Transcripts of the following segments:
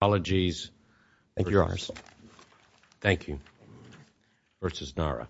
Apologies, Your Honor. Thank you. v. Narra. v. Narra.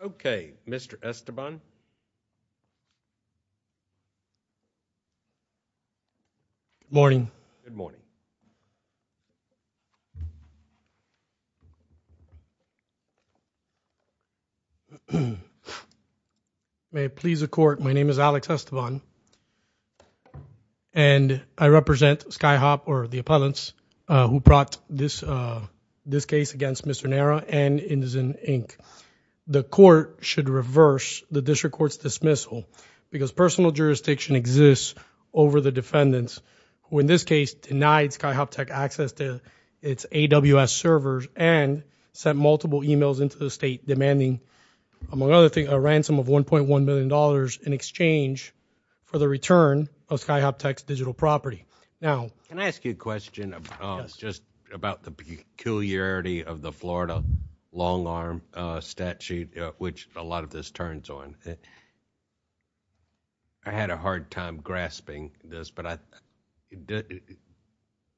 Okay, Mr. Estoban. Good morning. May it please the Court, my name is Alex Estoban, and I represent SkyHop, or the appellants, who brought this case against Mr. Narra and Indizin, Inc. The Court should reverse the District Court's dismissal because personal jurisdiction exists over the defendants, who in this case denied SkyHopTech access to its AWS servers and sent multiple emails into the State demanding, among other things, a ransom of $1.1 million in exchange for the return of SkyHopTech's digital property. Now, can I ask you a question about the peculiarity of the Florida long-arm statute, which a lot of this turns on. I had a hard time grasping this, but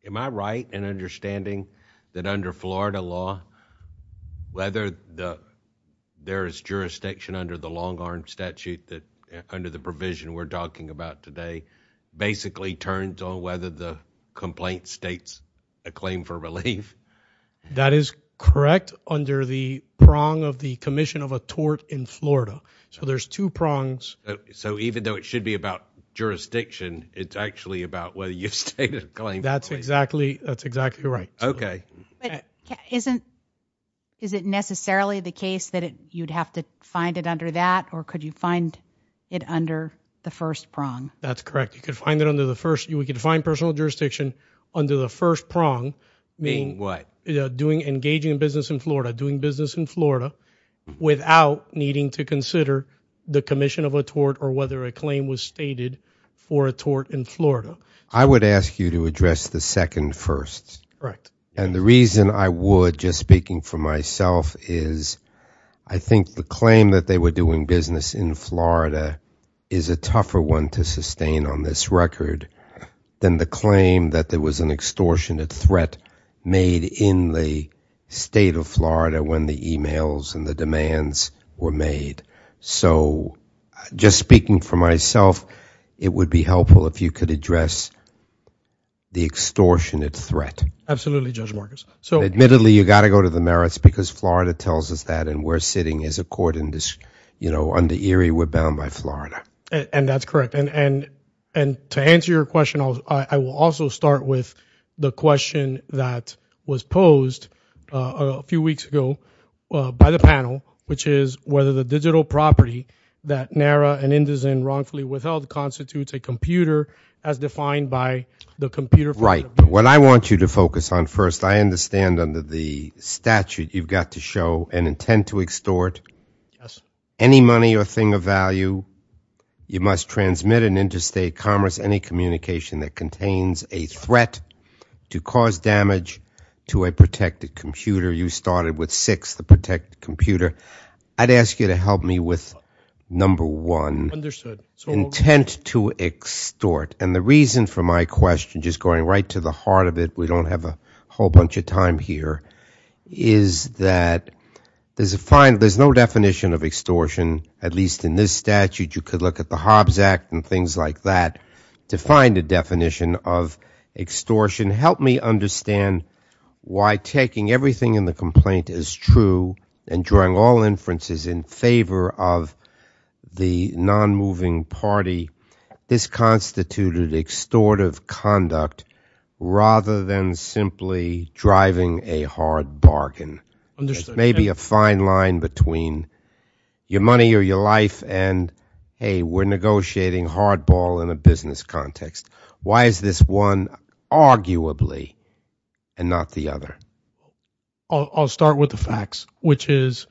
am I right in understanding that under Florida law, whether there is jurisdiction under the long-arm statute that, under the provision we're talking about today, basically turns on whether the complaint states a claim for relief? That is correct under the prong of the commission of a tort in Florida. So there's two prongs. So even though it should be about jurisdiction, it's actually about whether you've stated a claim? That's exactly right. Okay. But is it necessarily the case that you'd have to find it under that, or could you find it under the first prong? That's correct. You could find personal jurisdiction under the first prong. Meaning what? Engaging in business in Florida, doing business in Florida, without needing to consider the commission of a tort or whether a claim was stated for a tort in Florida. I would ask you to address the second first. Correct. And the reason I would, just speaking for myself, I think the claim that they were doing business in Florida is a tougher one to sustain on this record than the claim that there was an extortionate threat made in the state of Florida when the emails and the demands were made. So just speaking for myself, it would be helpful if you could address the extortionate threat. Absolutely, Judge Marcus. Admittedly, you've got to go to the merits because Florida tells us that, and we're sitting as a court under Erie. We're bound by Florida. And that's correct. And to answer your question, I will also start with the question that was posed a few weeks ago by the panel, which is whether the digital property that NARA and Indizin wrongfully withheld constitutes a computer as defined by the computer. Right. What I want you to focus on first, I understand under the statute you've got to show an intent to extort. Yes. Any money or thing of value you must transmit in interstate commerce, any communication that contains a threat to cause damage to a protected computer. You started with six, the protected computer. I'd ask you to help me with number one. Understood. Intent to extort. And the reason for my question, just going right to the heart of it, we don't have a whole bunch of time here, is that there's no definition of extortion, at least in this statute. You could look at the Hobbs Act and things like that to find a definition of extortion. Help me understand why taking everything in the complaint is true and drawing all inferences in favor of the non-moving party, this constituted extortive conduct rather than simply driving a hard bargain. Maybe a fine line between your money or your life and, hey, we're negotiating hardball in a business context. Why is this one arguably and not the other? I'll start with the facts, which is,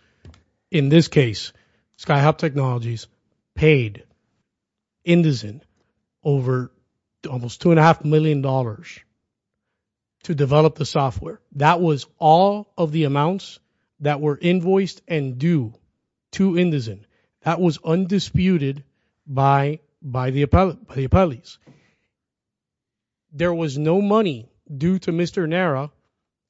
in this case, SkyHub Technologies paid Indizin over almost $2.5 million to develop the software. That was all of the amounts that were invoiced and due to Indizin. That was undisputed by the appellees. There was no money due to Mr. Nara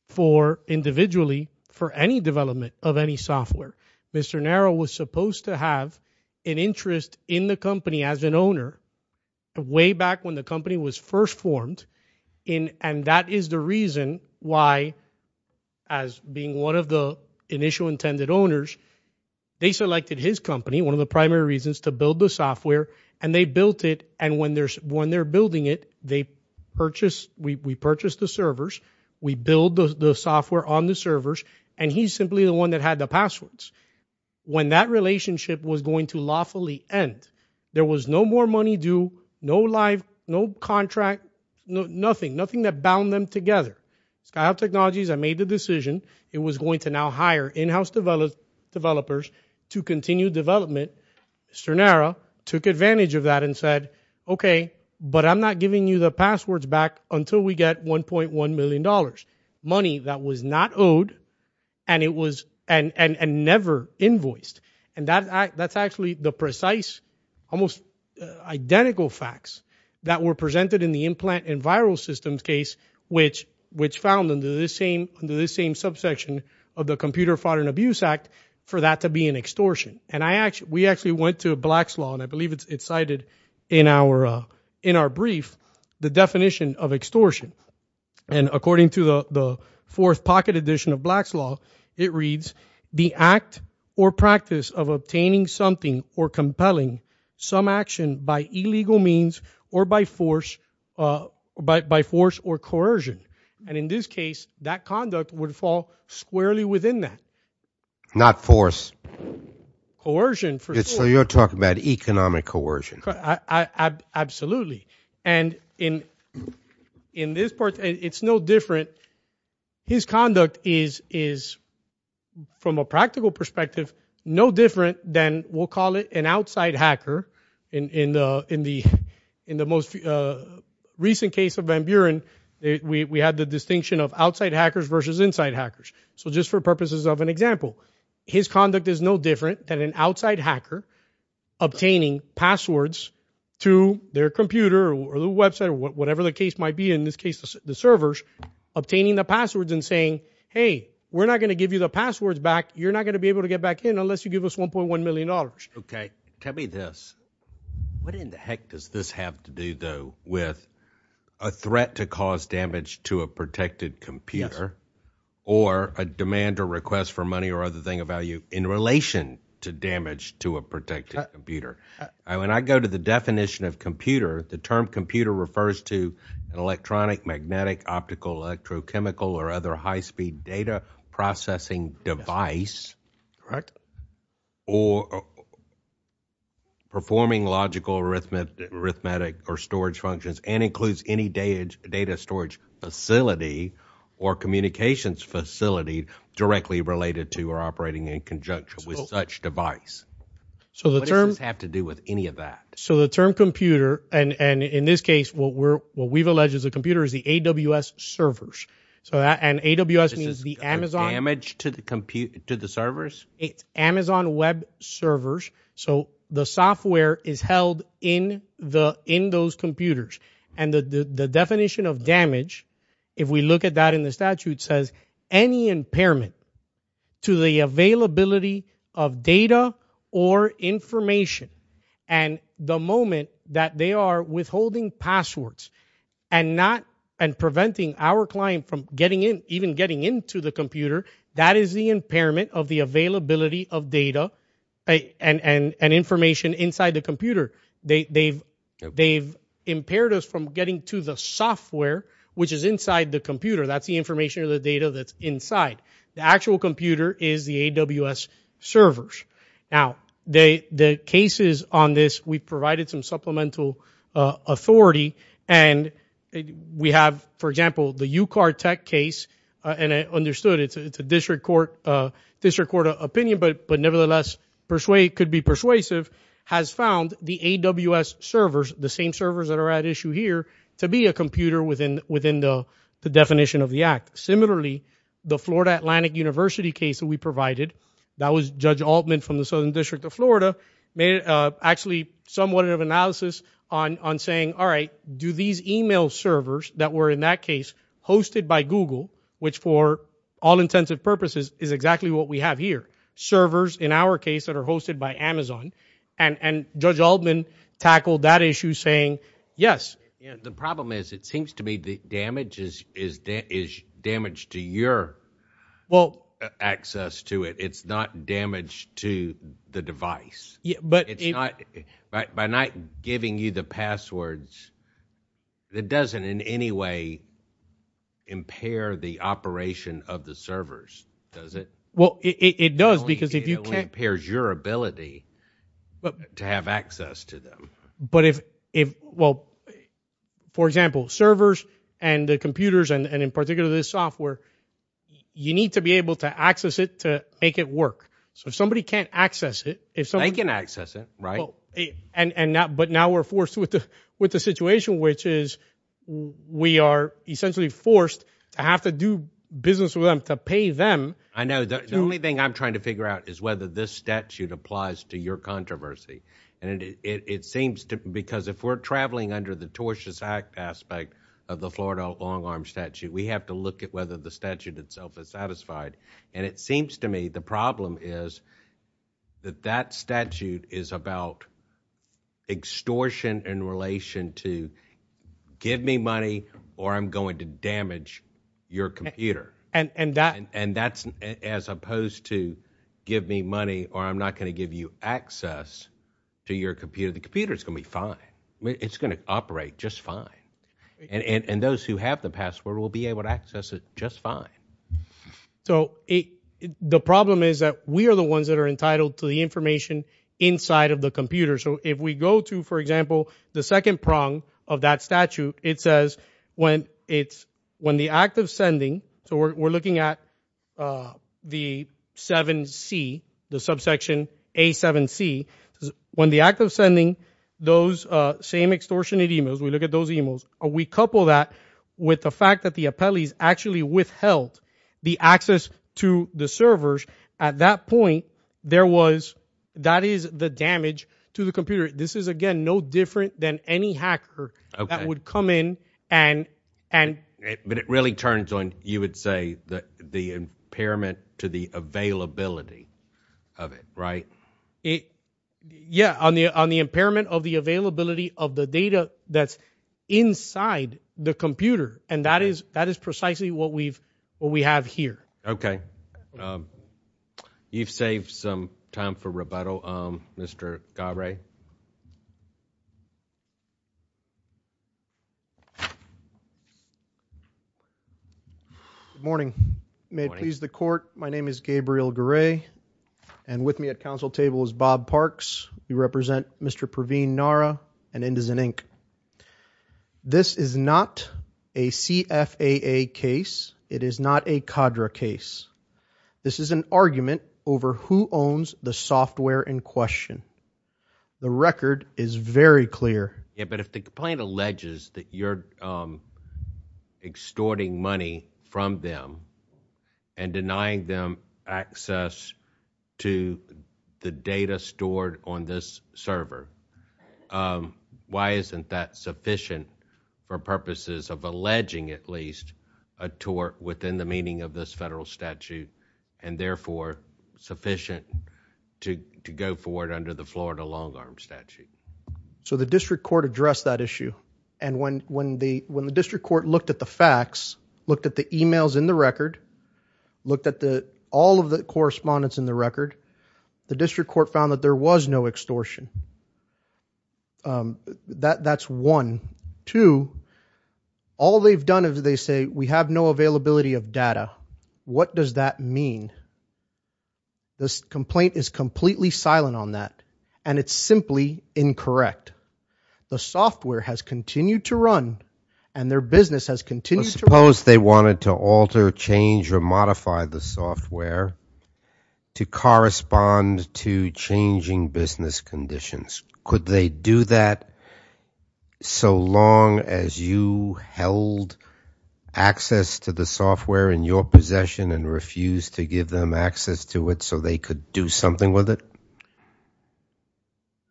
for individually for any development of any software. Mr. Nara was supposed to have an interest in the company as an owner way back when the company was first formed. And that is the reason why, as being one of the initial intended owners, they selected his company, one of the primary reasons, to build the software. And they built it, and when they're building it, we purchase the servers, we build the software on the servers, and he's simply the one that had the passwords. When that relationship was going to lawfully end, there was no more money due, no live, no contract, nothing, nothing that bound them together. SkyHub Technologies had made the decision. It was going to now hire in-house developers to continue development. Mr. Nara took advantage of that and said, okay, but I'm not giving you the passwords back until we get $1.1 million, money that was not owed and never invoiced. And that's actually the precise, almost identical facts that were presented in the implant and viral systems case, which found under this same subsection of the Computer Fraud and Abuse Act for that to be an extortion. And we actually went to Black's Law, and I believe it's cited in our brief, the definition of extortion. And according to the fourth pocket edition of Black's Law, it reads, the act or practice of obtaining something or compelling some action by illegal means or by force or coercion. And in this case, that conduct would fall squarely within that. Not force. Coercion. So you're talking about economic coercion. Absolutely. And in this part, it's no different. His conduct is, from a practical perspective, no different than we'll call it an outside hacker. In the most recent case of Van Buren, we had the distinction of outside hackers versus inside hackers. So just for purposes of an example, his conduct is no different than an outside hacker obtaining passwords to their computer or their website or whatever the case might be. In this case, the servers obtaining the passwords and saying, hey, we're not going to give you the passwords back. You're not going to be able to get back in unless you give us $1.1 million. Okay. Tell me this. What in the heck does this have to do, though, with a threat to cause damage to a protected computer or a demand or request for money or other thing of value in relation to damage to a protected computer? When I go to the definition of computer, the term computer refers to an electronic, magnetic, optical, or other high-speed data processing device or performing logical arithmetic or storage functions and includes any data storage facility or communications facility directly related to or operating in conjunction with such device. What does this have to do with any of that? So the term computer, and in this case what we've alleged is a computer, is the AWS servers. And AWS means the Amazon. This is damage to the servers? It's Amazon Web Servers. So the software is held in those computers. And the definition of damage, if we look at that in the statute, says any impairment to the availability of data or information and the moment that they are withholding passwords and preventing our client from even getting into the computer, that is the impairment of the availability of data and information inside the computer. They've impaired us from getting to the software, which is inside the computer. That's the information or the data that's inside. The actual computer is the AWS servers. Now, the cases on this, we've provided some supplemental authority, and we have, for example, the UCAR tech case, and I understood it's a district court opinion, but nevertheless could be persuasive, has found the AWS servers, the same servers that are at issue here, to be a computer within the definition of the act. Similarly, the Florida Atlantic University case that we provided, that was Judge Altman from the Southern District of Florida, made actually somewhat of an analysis on saying, all right, do these e-mail servers that were in that case hosted by Google, which for all intents and purposes is exactly what we have here, servers in our case that are hosted by Amazon, and Judge Altman tackled that issue saying yes. The problem is, it seems to me that damage is damage to your access to it. It's not damage to the device. By not giving you the passwords, it doesn't in any way impair the operation of the servers, does it? Well, it does because if you can't It only impairs your ability to have access to them. But if, well, for example, servers and computers and in particular this software, you need to be able to access it to make it work. So if somebody can't access it, if somebody They can access it, right. But now we're forced with the situation, which is we are essentially forced to have to do business with them to pay them. I know. The only thing I'm trying to figure out is whether this statute applies to your controversy. Because if we're traveling under the tortious act aspect of the Florida long arm statute, we have to look at whether the statute itself is satisfied. And it seems to me the problem is that that statute is about extortion in relation to give me money or I'm going to damage your computer. And that's as opposed to give me money or I'm not going to give you access to your computer. The computer is going to be fine. It's going to operate just fine. And those who have the password will be able to access it just fine. So the problem is that we are the ones that are entitled to the information inside of the computer. So if we go to, for example, the second prong of that statute, it says when it's when the act of sending. So we're looking at the 7C, the subsection A7C. When the act of sending those same extortionate emails, we look at those emails. We couple that with the fact that the appellees actually withheld the access to the servers. At that point, there was that is the damage to the computer. This is, again, no different than any hacker that would come in and. But it really turns on, you would say that the impairment to the availability of it. Right. Yeah. On the on the impairment of the availability of the data that's inside the computer. And that is that is precisely what we've what we have here. OK. You've saved some time for rebuttal. Mr. Garay. Good morning. May it please the court. My name is Gabriel Garay. And with me at council table is Bob Parks. You represent Mr. Pravin, Nara and Indizen Inc. This is not a CFAA case. It is not a cadre case. This is an argument over who owns the software in question. The record is very clear. Yeah. But if the complaint alleges that you're extorting money from them. And denying them access to the data stored on this server. Why isn't that sufficient for purposes of alleging at least a tour within the meaning of this federal statute? And therefore sufficient to to go forward under the Florida long arm statute. So the district court addressed that issue. And when when the when the district court looked at the facts, looked at the emails in the record. Looked at the all of the correspondence in the record. The district court found that there was no extortion. That that's one. Two. All they've done is they say we have no availability of data. What does that mean? This complaint is completely silent on that. And it's simply incorrect. The software has continued to run. And their business has continued. Suppose they wanted to alter, change or modify the software. To correspond to changing business conditions. Could they do that? So long as you held access to the software in your possession. And refused to give them access to it. So they could do something with it.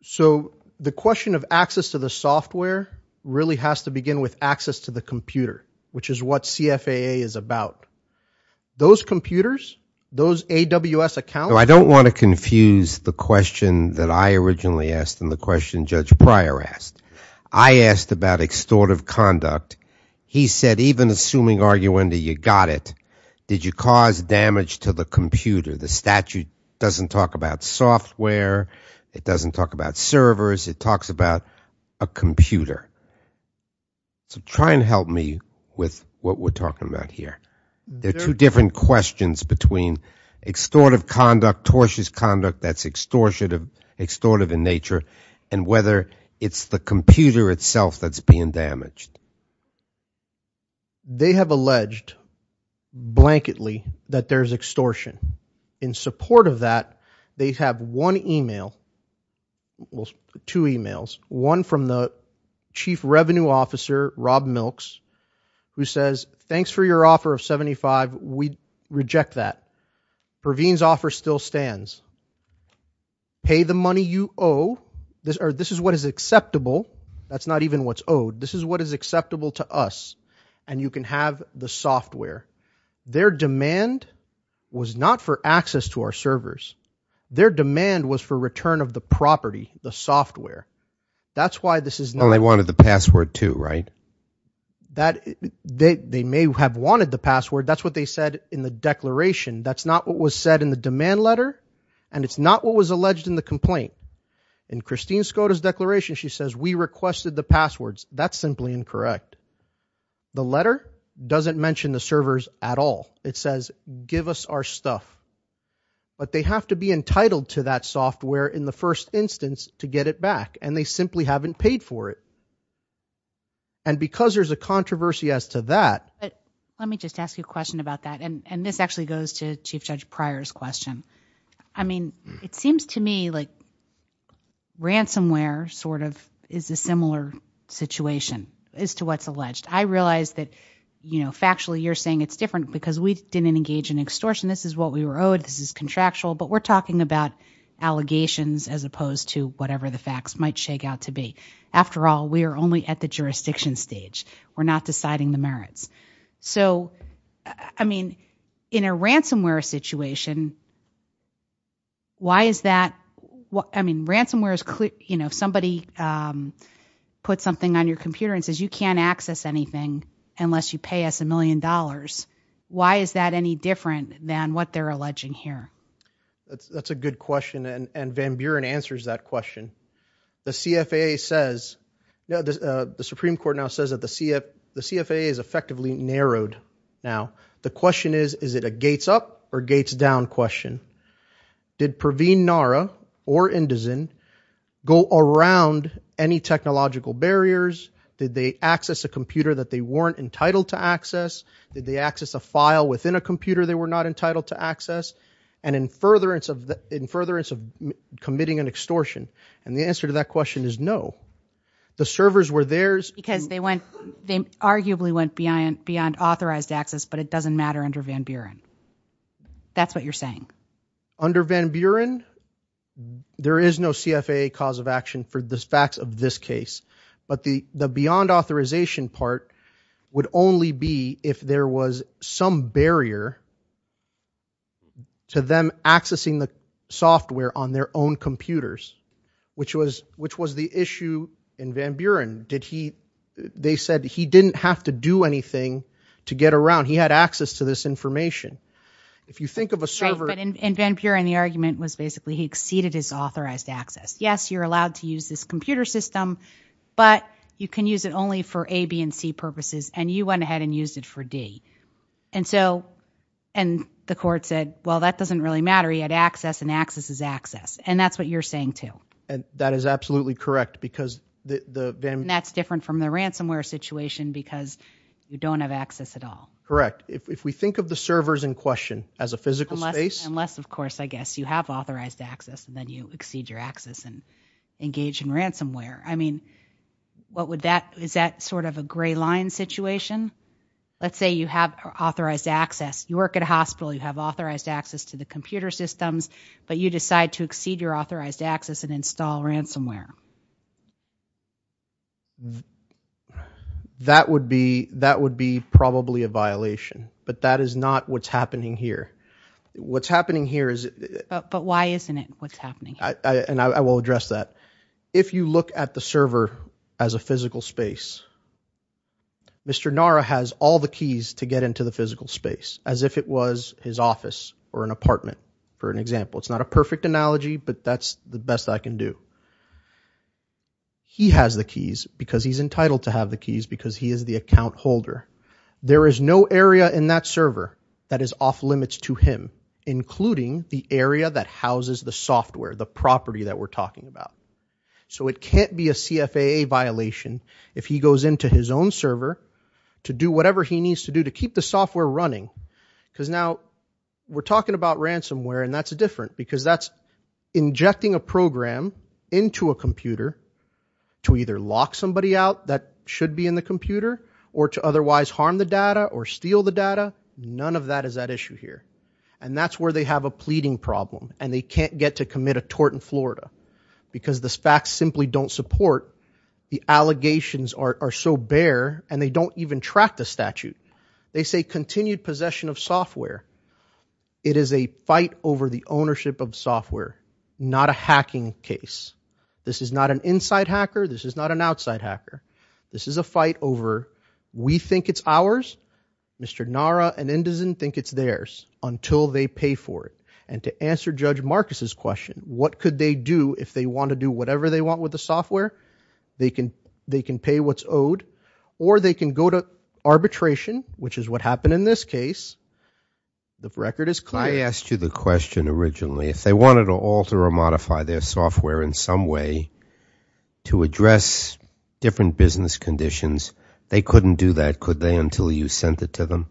So the question of access to the software. Really has to begin with access to the computer. Which is what CFAA is about. Those computers. Those AWS accounts. I don't want to confuse the question that I originally asked. And the question Judge Pryor asked. I asked about extortive conduct. He said even assuming argue under you got it. Did you cause damage to the computer? The statute doesn't talk about software. It doesn't talk about servers. It talks about a computer. So try and help me with what we're talking about here. There are two different questions between extortive conduct. Tortious conduct that's extortive in nature. And whether it's the computer itself that's being damaged. They have alleged. Blanketly that there's extortion. In support of that. They have one e-mail. Two e-mails. One from the chief revenue officer Rob Milks. Who says thanks for your offer of 75. We reject that. Perveen's offer still stands. Pay the money you owe. This is what is acceptable. That's not even what's owed. This is what is acceptable to us. And you can have the software. Their demand was not for access to our servers. Their demand was for return of the property. The software. That's why this is not. They wanted the password too, right? They may have wanted the password. That's what they said in the declaration. That's not what was said in the demand letter. And it's not what was alleged in the complaint. In Christine Skoda's declaration, she says we requested the passwords. That's simply incorrect. The letter doesn't mention the servers at all. It says give us our stuff. But they have to be entitled to that software in the first instance to get it back. And they simply haven't paid for it. And because there's a controversy as to that. Let me just ask you a question about that. And this actually goes to Chief Judge Pryor's question. I mean, it seems to me like ransomware sort of is a similar situation as to what's alleged. I realize that, you know, factually you're saying it's different because we didn't engage in extortion. This is what we were owed. This is contractual. But we're talking about allegations as opposed to whatever the facts might shake out to be. After all, we are only at the jurisdiction stage. We're not deciding the merits. So, I mean, in a ransomware situation, why is that? I mean, ransomware is clear. You know, somebody puts something on your computer and says you can't access anything unless you pay us a million dollars. Why is that any different than what they're alleging here? That's a good question. And Van Buren answers that question. The CFAA says, the Supreme Court now says that the CFAA is effectively narrowed now. The question is, is it a gates up or gates down question? Did Pravin Nara or Indizin go around any technological barriers? Did they access a computer that they weren't entitled to access? Did they access a file within a computer they were not entitled to access? And in furtherance of committing an extortion? And the answer to that question is no. The servers were theirs. Because they went, they arguably went beyond authorized access, but it doesn't matter under Van Buren. That's what you're saying. Under Van Buren, there is no CFAA cause of action for the facts of this case. But the beyond authorization part would only be if there was some barrier to them accessing the software on their own computers. Which was the issue in Van Buren. They said he didn't have to do anything to get around. He had access to this information. If you think of a server... In Van Buren, the argument was basically he exceeded his authorized access. Yes, you're allowed to use this computer system. But you can use it only for A, B, and C purposes. And you went ahead and used it for D. And so, and the court said, well, that doesn't really matter. He had access and access is access. And that's what you're saying too. That is absolutely correct. That's different from the ransomware situation because you don't have access at all. Correct. If we think of the servers in question as a physical space... And engage in ransomware. I mean, what would that... Is that sort of a gray line situation? Let's say you have authorized access. You work at a hospital. You have authorized access to the computer systems. But you decide to exceed your authorized access and install ransomware. That would be probably a violation. But that is not what's happening here. What's happening here is... But why isn't it what's happening here? And I will address that. If you look at the server as a physical space... Mr. Nara has all the keys to get into the physical space. As if it was his office or an apartment. For an example. It's not a perfect analogy, but that's the best I can do. He has the keys because he's entitled to have the keys. Because he is the account holder. There is no area in that server that is off limits to him. Including the area that houses the software. The property that we're talking about. So it can't be a CFAA violation. If he goes into his own server. To do whatever he needs to do. To keep the software running. Because now... We're talking about ransomware. And that's different. Because that's injecting a program into a computer. To either lock somebody out. That should be in the computer. Or to otherwise harm the data. Or steal the data. None of that is at issue here. And that's where they have a pleading problem. And they can't get to commit a tort in Florida. Because the facts simply don't support. The allegations are so bare. And they don't even track the statute. They say continued possession of software. It is a fight over the ownership of software. Not a hacking case. This is not an inside hacker. This is not an outside hacker. This is a fight over... It's ours. Mr. Nara and Indizin think it's theirs. Until they pay for it. And to answer Judge Marcus' question. What could they do if they want to do whatever they want with the software? They can pay what's owed. Or they can go to arbitration. Which is what happened in this case. The record is clear. I asked you the question originally. If they wanted to alter or modify their software in some way. To address different business conditions. They couldn't do that, could they? Until you sent it to them.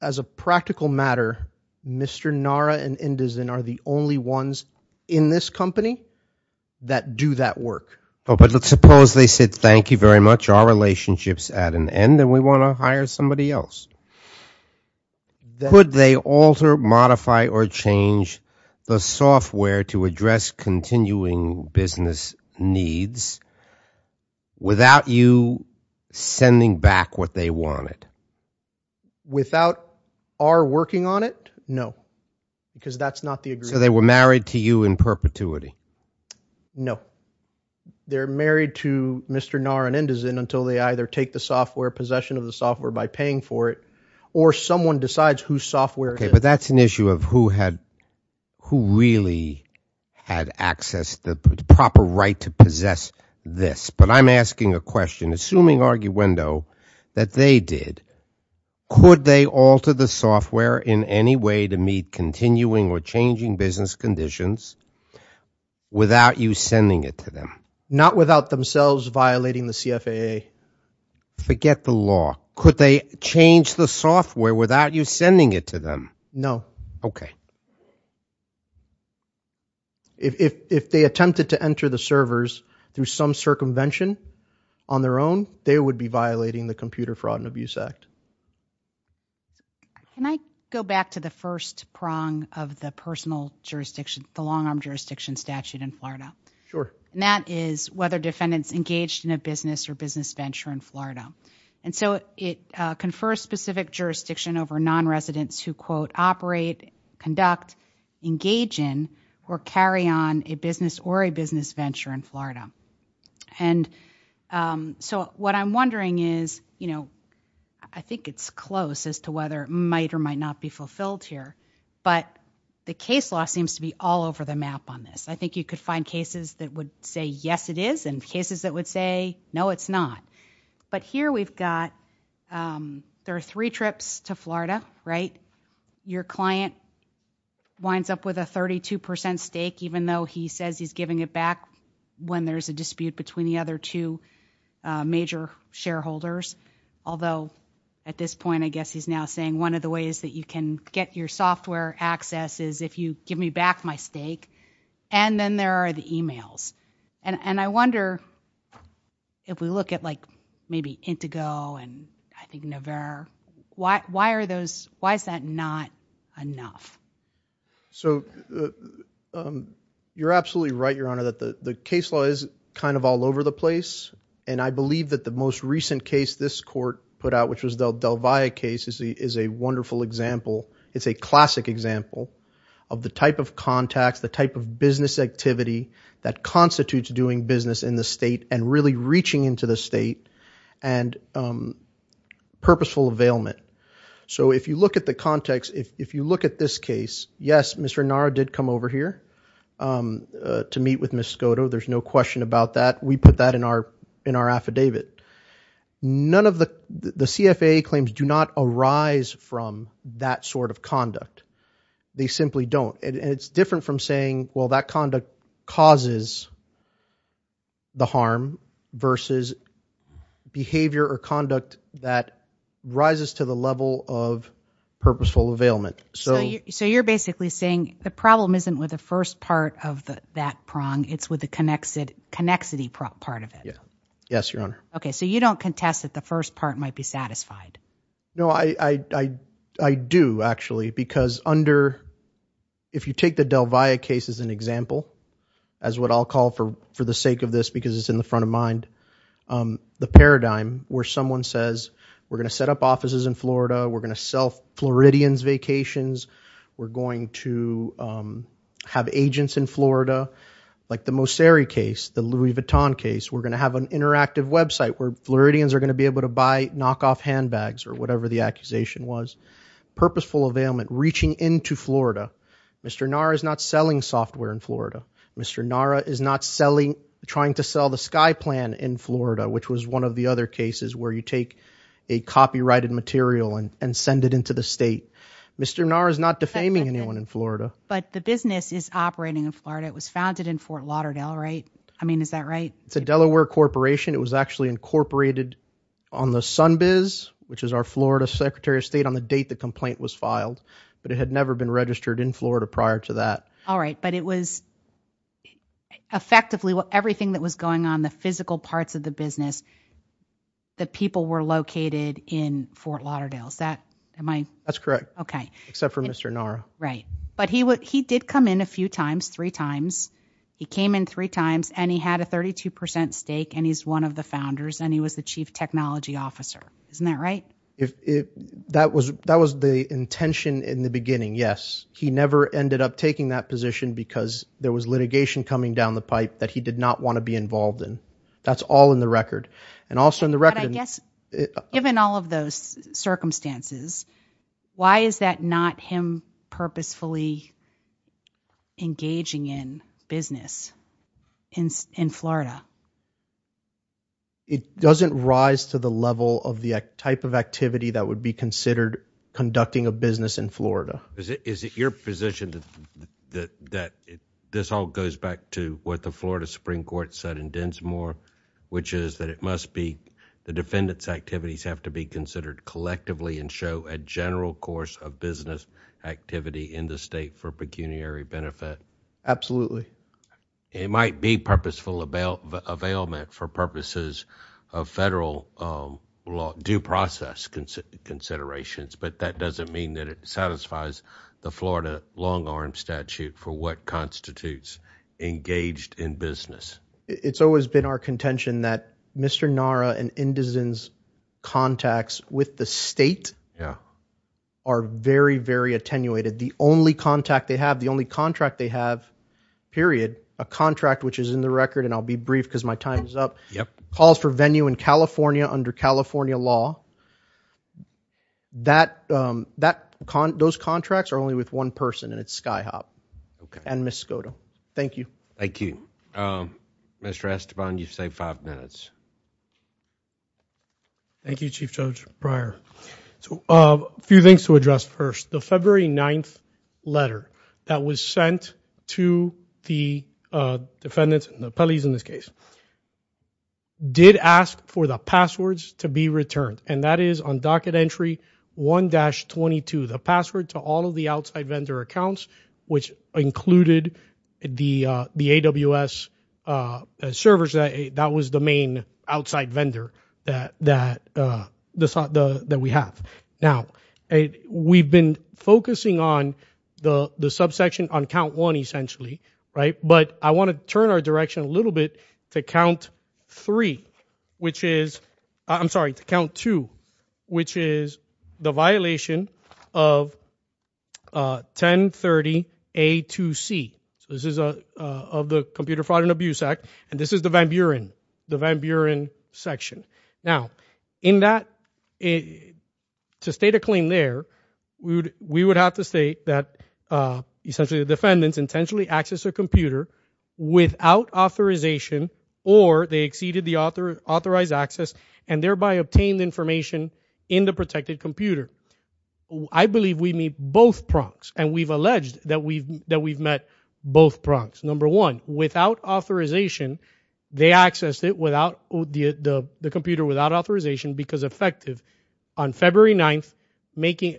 As a practical matter. Mr. Nara and Indizin are the only ones. In this company. That do that work. But suppose they said. Thank you very much. Our relationship is at an end. And we want to hire somebody else. Could they alter, modify or change. The software. To address continuing business needs. Without you. Sending back what they wanted. Without our working on it. No. Because that's not the agreement. So they were married to you in perpetuity. No. They're married to Mr. Nara and Indizin. Until they either take the software. Possession of the software. By paying for it. Or someone decides whose software it is. But that's an issue of who had. Who really had access. The proper right to possess this. But I'm asking a question. Assuming arguendo. That they did. Could they alter the software. In any way to meet continuing. Or changing business conditions. Without you sending it to them. Not without themselves. Violating the CFAA. Forget the law. Could they change the software. Without you sending it to them. No. Okay. If they attempted to enter the servers. Through some circumvention. On their own. They would be violating the computer fraud and abuse act. Can I go back to the first prong. Of the personal jurisdiction. The long arm jurisdiction statute in Florida. Sure. And that is whether defendants engaged in a business. Or business venture in Florida. And so it confers specific jurisdiction. Over non-residents who quote operate. Conduct. Engage in. Or carry on a business. Or a business venture in Florida. And so what I'm wondering. Is you know. I think it's close. As to whether it might or might not be fulfilled here. But the case law. Seems to be all over the map on this. I think you could find cases. That would say yes it is. And cases that would say no it's not. But here we've got. There are three trips to Florida. Right. Your client. Winds up with a 32% stake. Even though he says he's giving it back. When there's a dispute between the other two. Major shareholders. Although at this point. I guess he's now saying one of the ways. That you can get your software access. Is if you give me back my stake. And then there are the emails. And I wonder. If we look at like. Maybe Intego. And I think Nevera. Why are those. Why is that not enough? So. You're absolutely right your honor. That the case law is kind of all over the place. And I believe that the most recent case. This court put out. Which was Del Valle case. Is a wonderful example. It's a classic example. Of the type of contacts. The type of business activity. That constitutes doing business in the state. And really reaching into the state. And. Purposeful availment. So if you look at the context. If you look at this case. Yes Mr. Nara did come over here. To meet with Ms. Skoda. There's no question about that. We put that in our affidavit. None of the CFA claims. Do not arise from. That sort of conduct. They simply don't. And it's different from saying. Well that conduct causes. The harm. Versus. Behavior or conduct. That rises to the level of. Purposeful availment. So you're basically saying. The problem isn't with the first part. Of that prong. It's with the connexity part of it. Yes your honor. Okay so you don't contest. That the first part might be satisfied. No I do actually. Because under. If you take the Del Valle case. As an example. As what I'll call for the sake of this. Because it's in the front of mind. The paradigm where someone says. We're going to set up offices in Florida. We're going to sell Floridians vacations. We're going to. Have agents in Florida. Like the Mosseri case. The Louis Vuitton case. We're going to have an interactive website. Where Floridians are going to be able to buy. Knock off handbags or whatever the accusation was. Purposeful availment. Reaching into Florida. Mr. Nara is not selling software in Florida. Mr. Nara is not selling. Trying to sell the sky plan in Florida. Which was one of the other cases. Where you take a copyrighted material. And send it into the state. Mr. Nara is not defaming anyone in Florida. But the business is operating in Florida. It was founded in Fort Lauderdale right. I mean is that right. It's a Delaware corporation. It was actually incorporated on the sun biz. Which is our Florida secretary of state. On the date the complaint was filed. But it had never been registered in Florida. Prior to that. Alright but it was. Effectively everything that was going on. The physical parts of the business. The people were located in Fort Lauderdale. Is that am I. That's correct. Except for Mr. Nara. Right. But he did come in a few times. Three times. He came in three times. And he had a 32% stake. And he's one of the founders. And he was the chief technology officer. Isn't that right. That was the intention in the beginning. Yes. He never ended up taking that position. Because there was litigation coming down the pipe. That he did not want to be involved in. That's all in the record. And also in the record. Given all of those circumstances. Why is that not him. Purposefully. Engaging in. Business. In Florida. It doesn't rise to the level. Of the type of activity. That would be considered. Conducting a business in Florida. Is it your position. That this all goes back to. What the Florida Supreme Court said. In Densmore. Which is that it must be. The defendants activities have to be considered. Collectively and show a general course. Of business activity. In the state for pecuniary benefit. Absolutely. It might be purposeful. Availment for purposes. Of federal. Due process. Considerations. But that doesn't mean that it satisfies. The Florida long arm statute. For what constitutes. Engaged in business. It's always been our contention that. Mr Nara and. Contacts with the state. Yeah. Are very very attenuated the only. Contact they have the only contract they have. Period. A contract which is in the record and I'll be brief. Because my time is up. Yep calls for venue in California. Under California law. That. That. Those contracts are only with one person. And it's sky hop. And miss go to thank you. Thank you. Mr Esteban you say five minutes. Thank you. Chief judge prior. A few things to address first the February. Ninth. Letter that was sent. To the defendant. In this case. Did ask for the passwords. To be returned and that is on docket entry. One dash 22. The password to all of the outside vendor accounts. Which included. The the AWS. Servers. That was the main outside vendor. That that. The thought the that we have now. A we've been focusing on. The the subsection on count one. Essentially. Right but I want to turn our direction a little bit. To count three. Which is. I'm sorry to count two. Which is the violation. Of. 1030. A to C. This is a of the computer fraud and abuse act. And this is the Van Buren. The Van Buren section. Now in that. To state a claim there. We would we would have to state that. Essentially the defendants intentionally access. A computer. Without authorization. Or they exceeded the author. Authorized access. And thereby obtained information. In the protected computer. I believe we meet both prongs. And we've alleged that we've that we've met. Both prongs number one. Without authorization. They accessed it without. The computer without authorization. Because effective on February 9th. Making.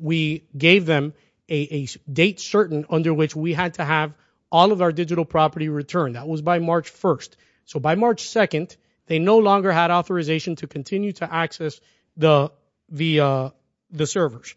We gave them. A date certain under which we had to have. All of our digital property return. That was by March 1st. So by March 2nd. They no longer had authorization to continue to access. The the. The servers.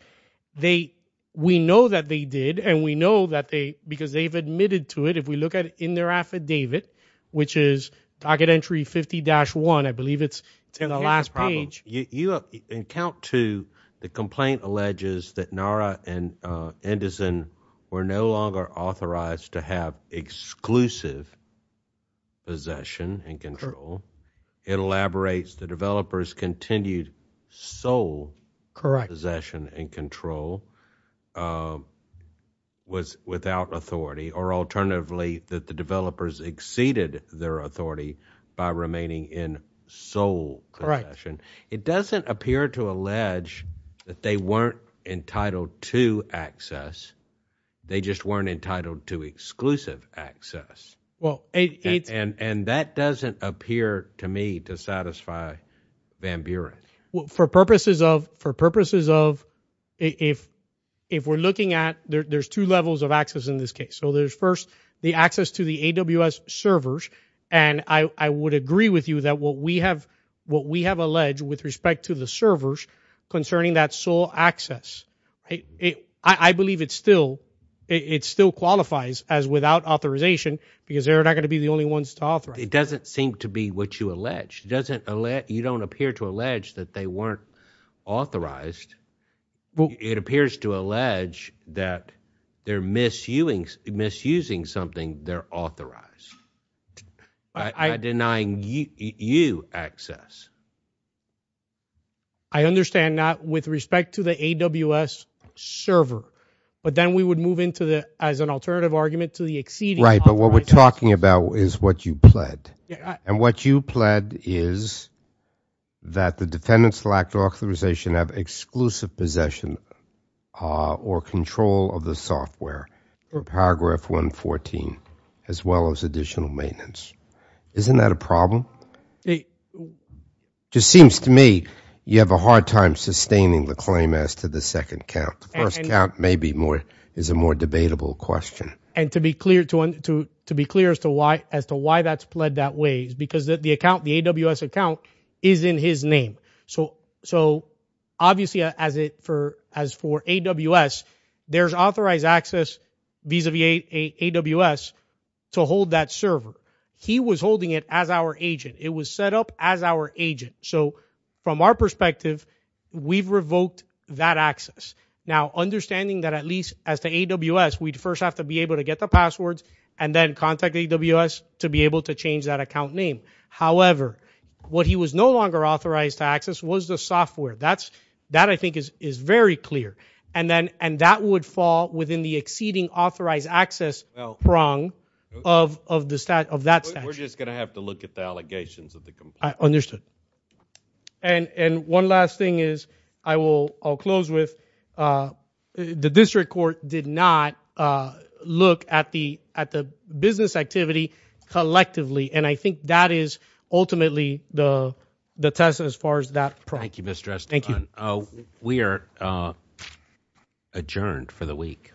They we know that they did. And we know that they because they've admitted to it. If we look at it in their affidavit. Which is. Docket entry 50 dash 1. I believe it's in the last page. You have in count to the complaint. The complaint alleges that Nara and. Anderson. We're no longer authorized to have. Exclusive. Possession and control. It elaborates. The developers continued. Soul. Correct. Possession and control. Was without authority or alternatively. That the developers exceeded their authority. By remaining in. Soul correction. It doesn't appear to allege. That they weren't entitled. To access. They just weren't entitled to exclusive. Access. And that doesn't appear. To me to satisfy. Van Buren. For purposes of for purposes of. If. We're looking at there's two levels of access in this case. So there's first. The access to the AWS servers. And I would agree with you that what we have. What we have alleged with respect to the servers. Concerning that soul. Access. I believe it's still. It still qualifies as without authorization. Because they're not going to be the only ones to author. It doesn't seem to be what you allege. Doesn't. You don't appear to allege that they weren't. Authorized. It appears to allege. That they're misusing. Misusing something. They're authorized. Denying you. You access. I understand. Not with respect to the AWS. Server. But then we would move into the as an alternative argument. To the exceeding right. But what we're talking about. Is what you pled. And what you pled is. That the defendants lack authorization. Have exclusive possession. Or control of the software. Or paragraph 114. As well as additional maintenance. Isn't that a problem? It. Seems to me. You have a hard time sustaining the claim. As to the second count. Maybe more. Is a more debatable question. And to be clear. To be clear as to why. As to why that's pled that way. Because the account. The AWS account. Is in his name. So obviously. As for AWS. There's authorized access. Vis-a-vis AWS. To hold that server. He was holding it as our agent. It was set up as our agent. So from our perspective. We've revoked that access. Now understanding that at least. As to AWS. We'd first have to be able to get the passwords. And then contact AWS. To be able to change that account name. However. What he was no longer authorized to access. Was the software. That I think is very clear. And that would fall within the exceeding. Authorized access prong. Of that statute. We're just going to have to look at the allegations. Understood. And one last thing is. I'll close with. The district court. Did not. Look at the business activity. Collectively. And I think that is ultimately. The test as far as that. Thank you. We are adjourned. For the week.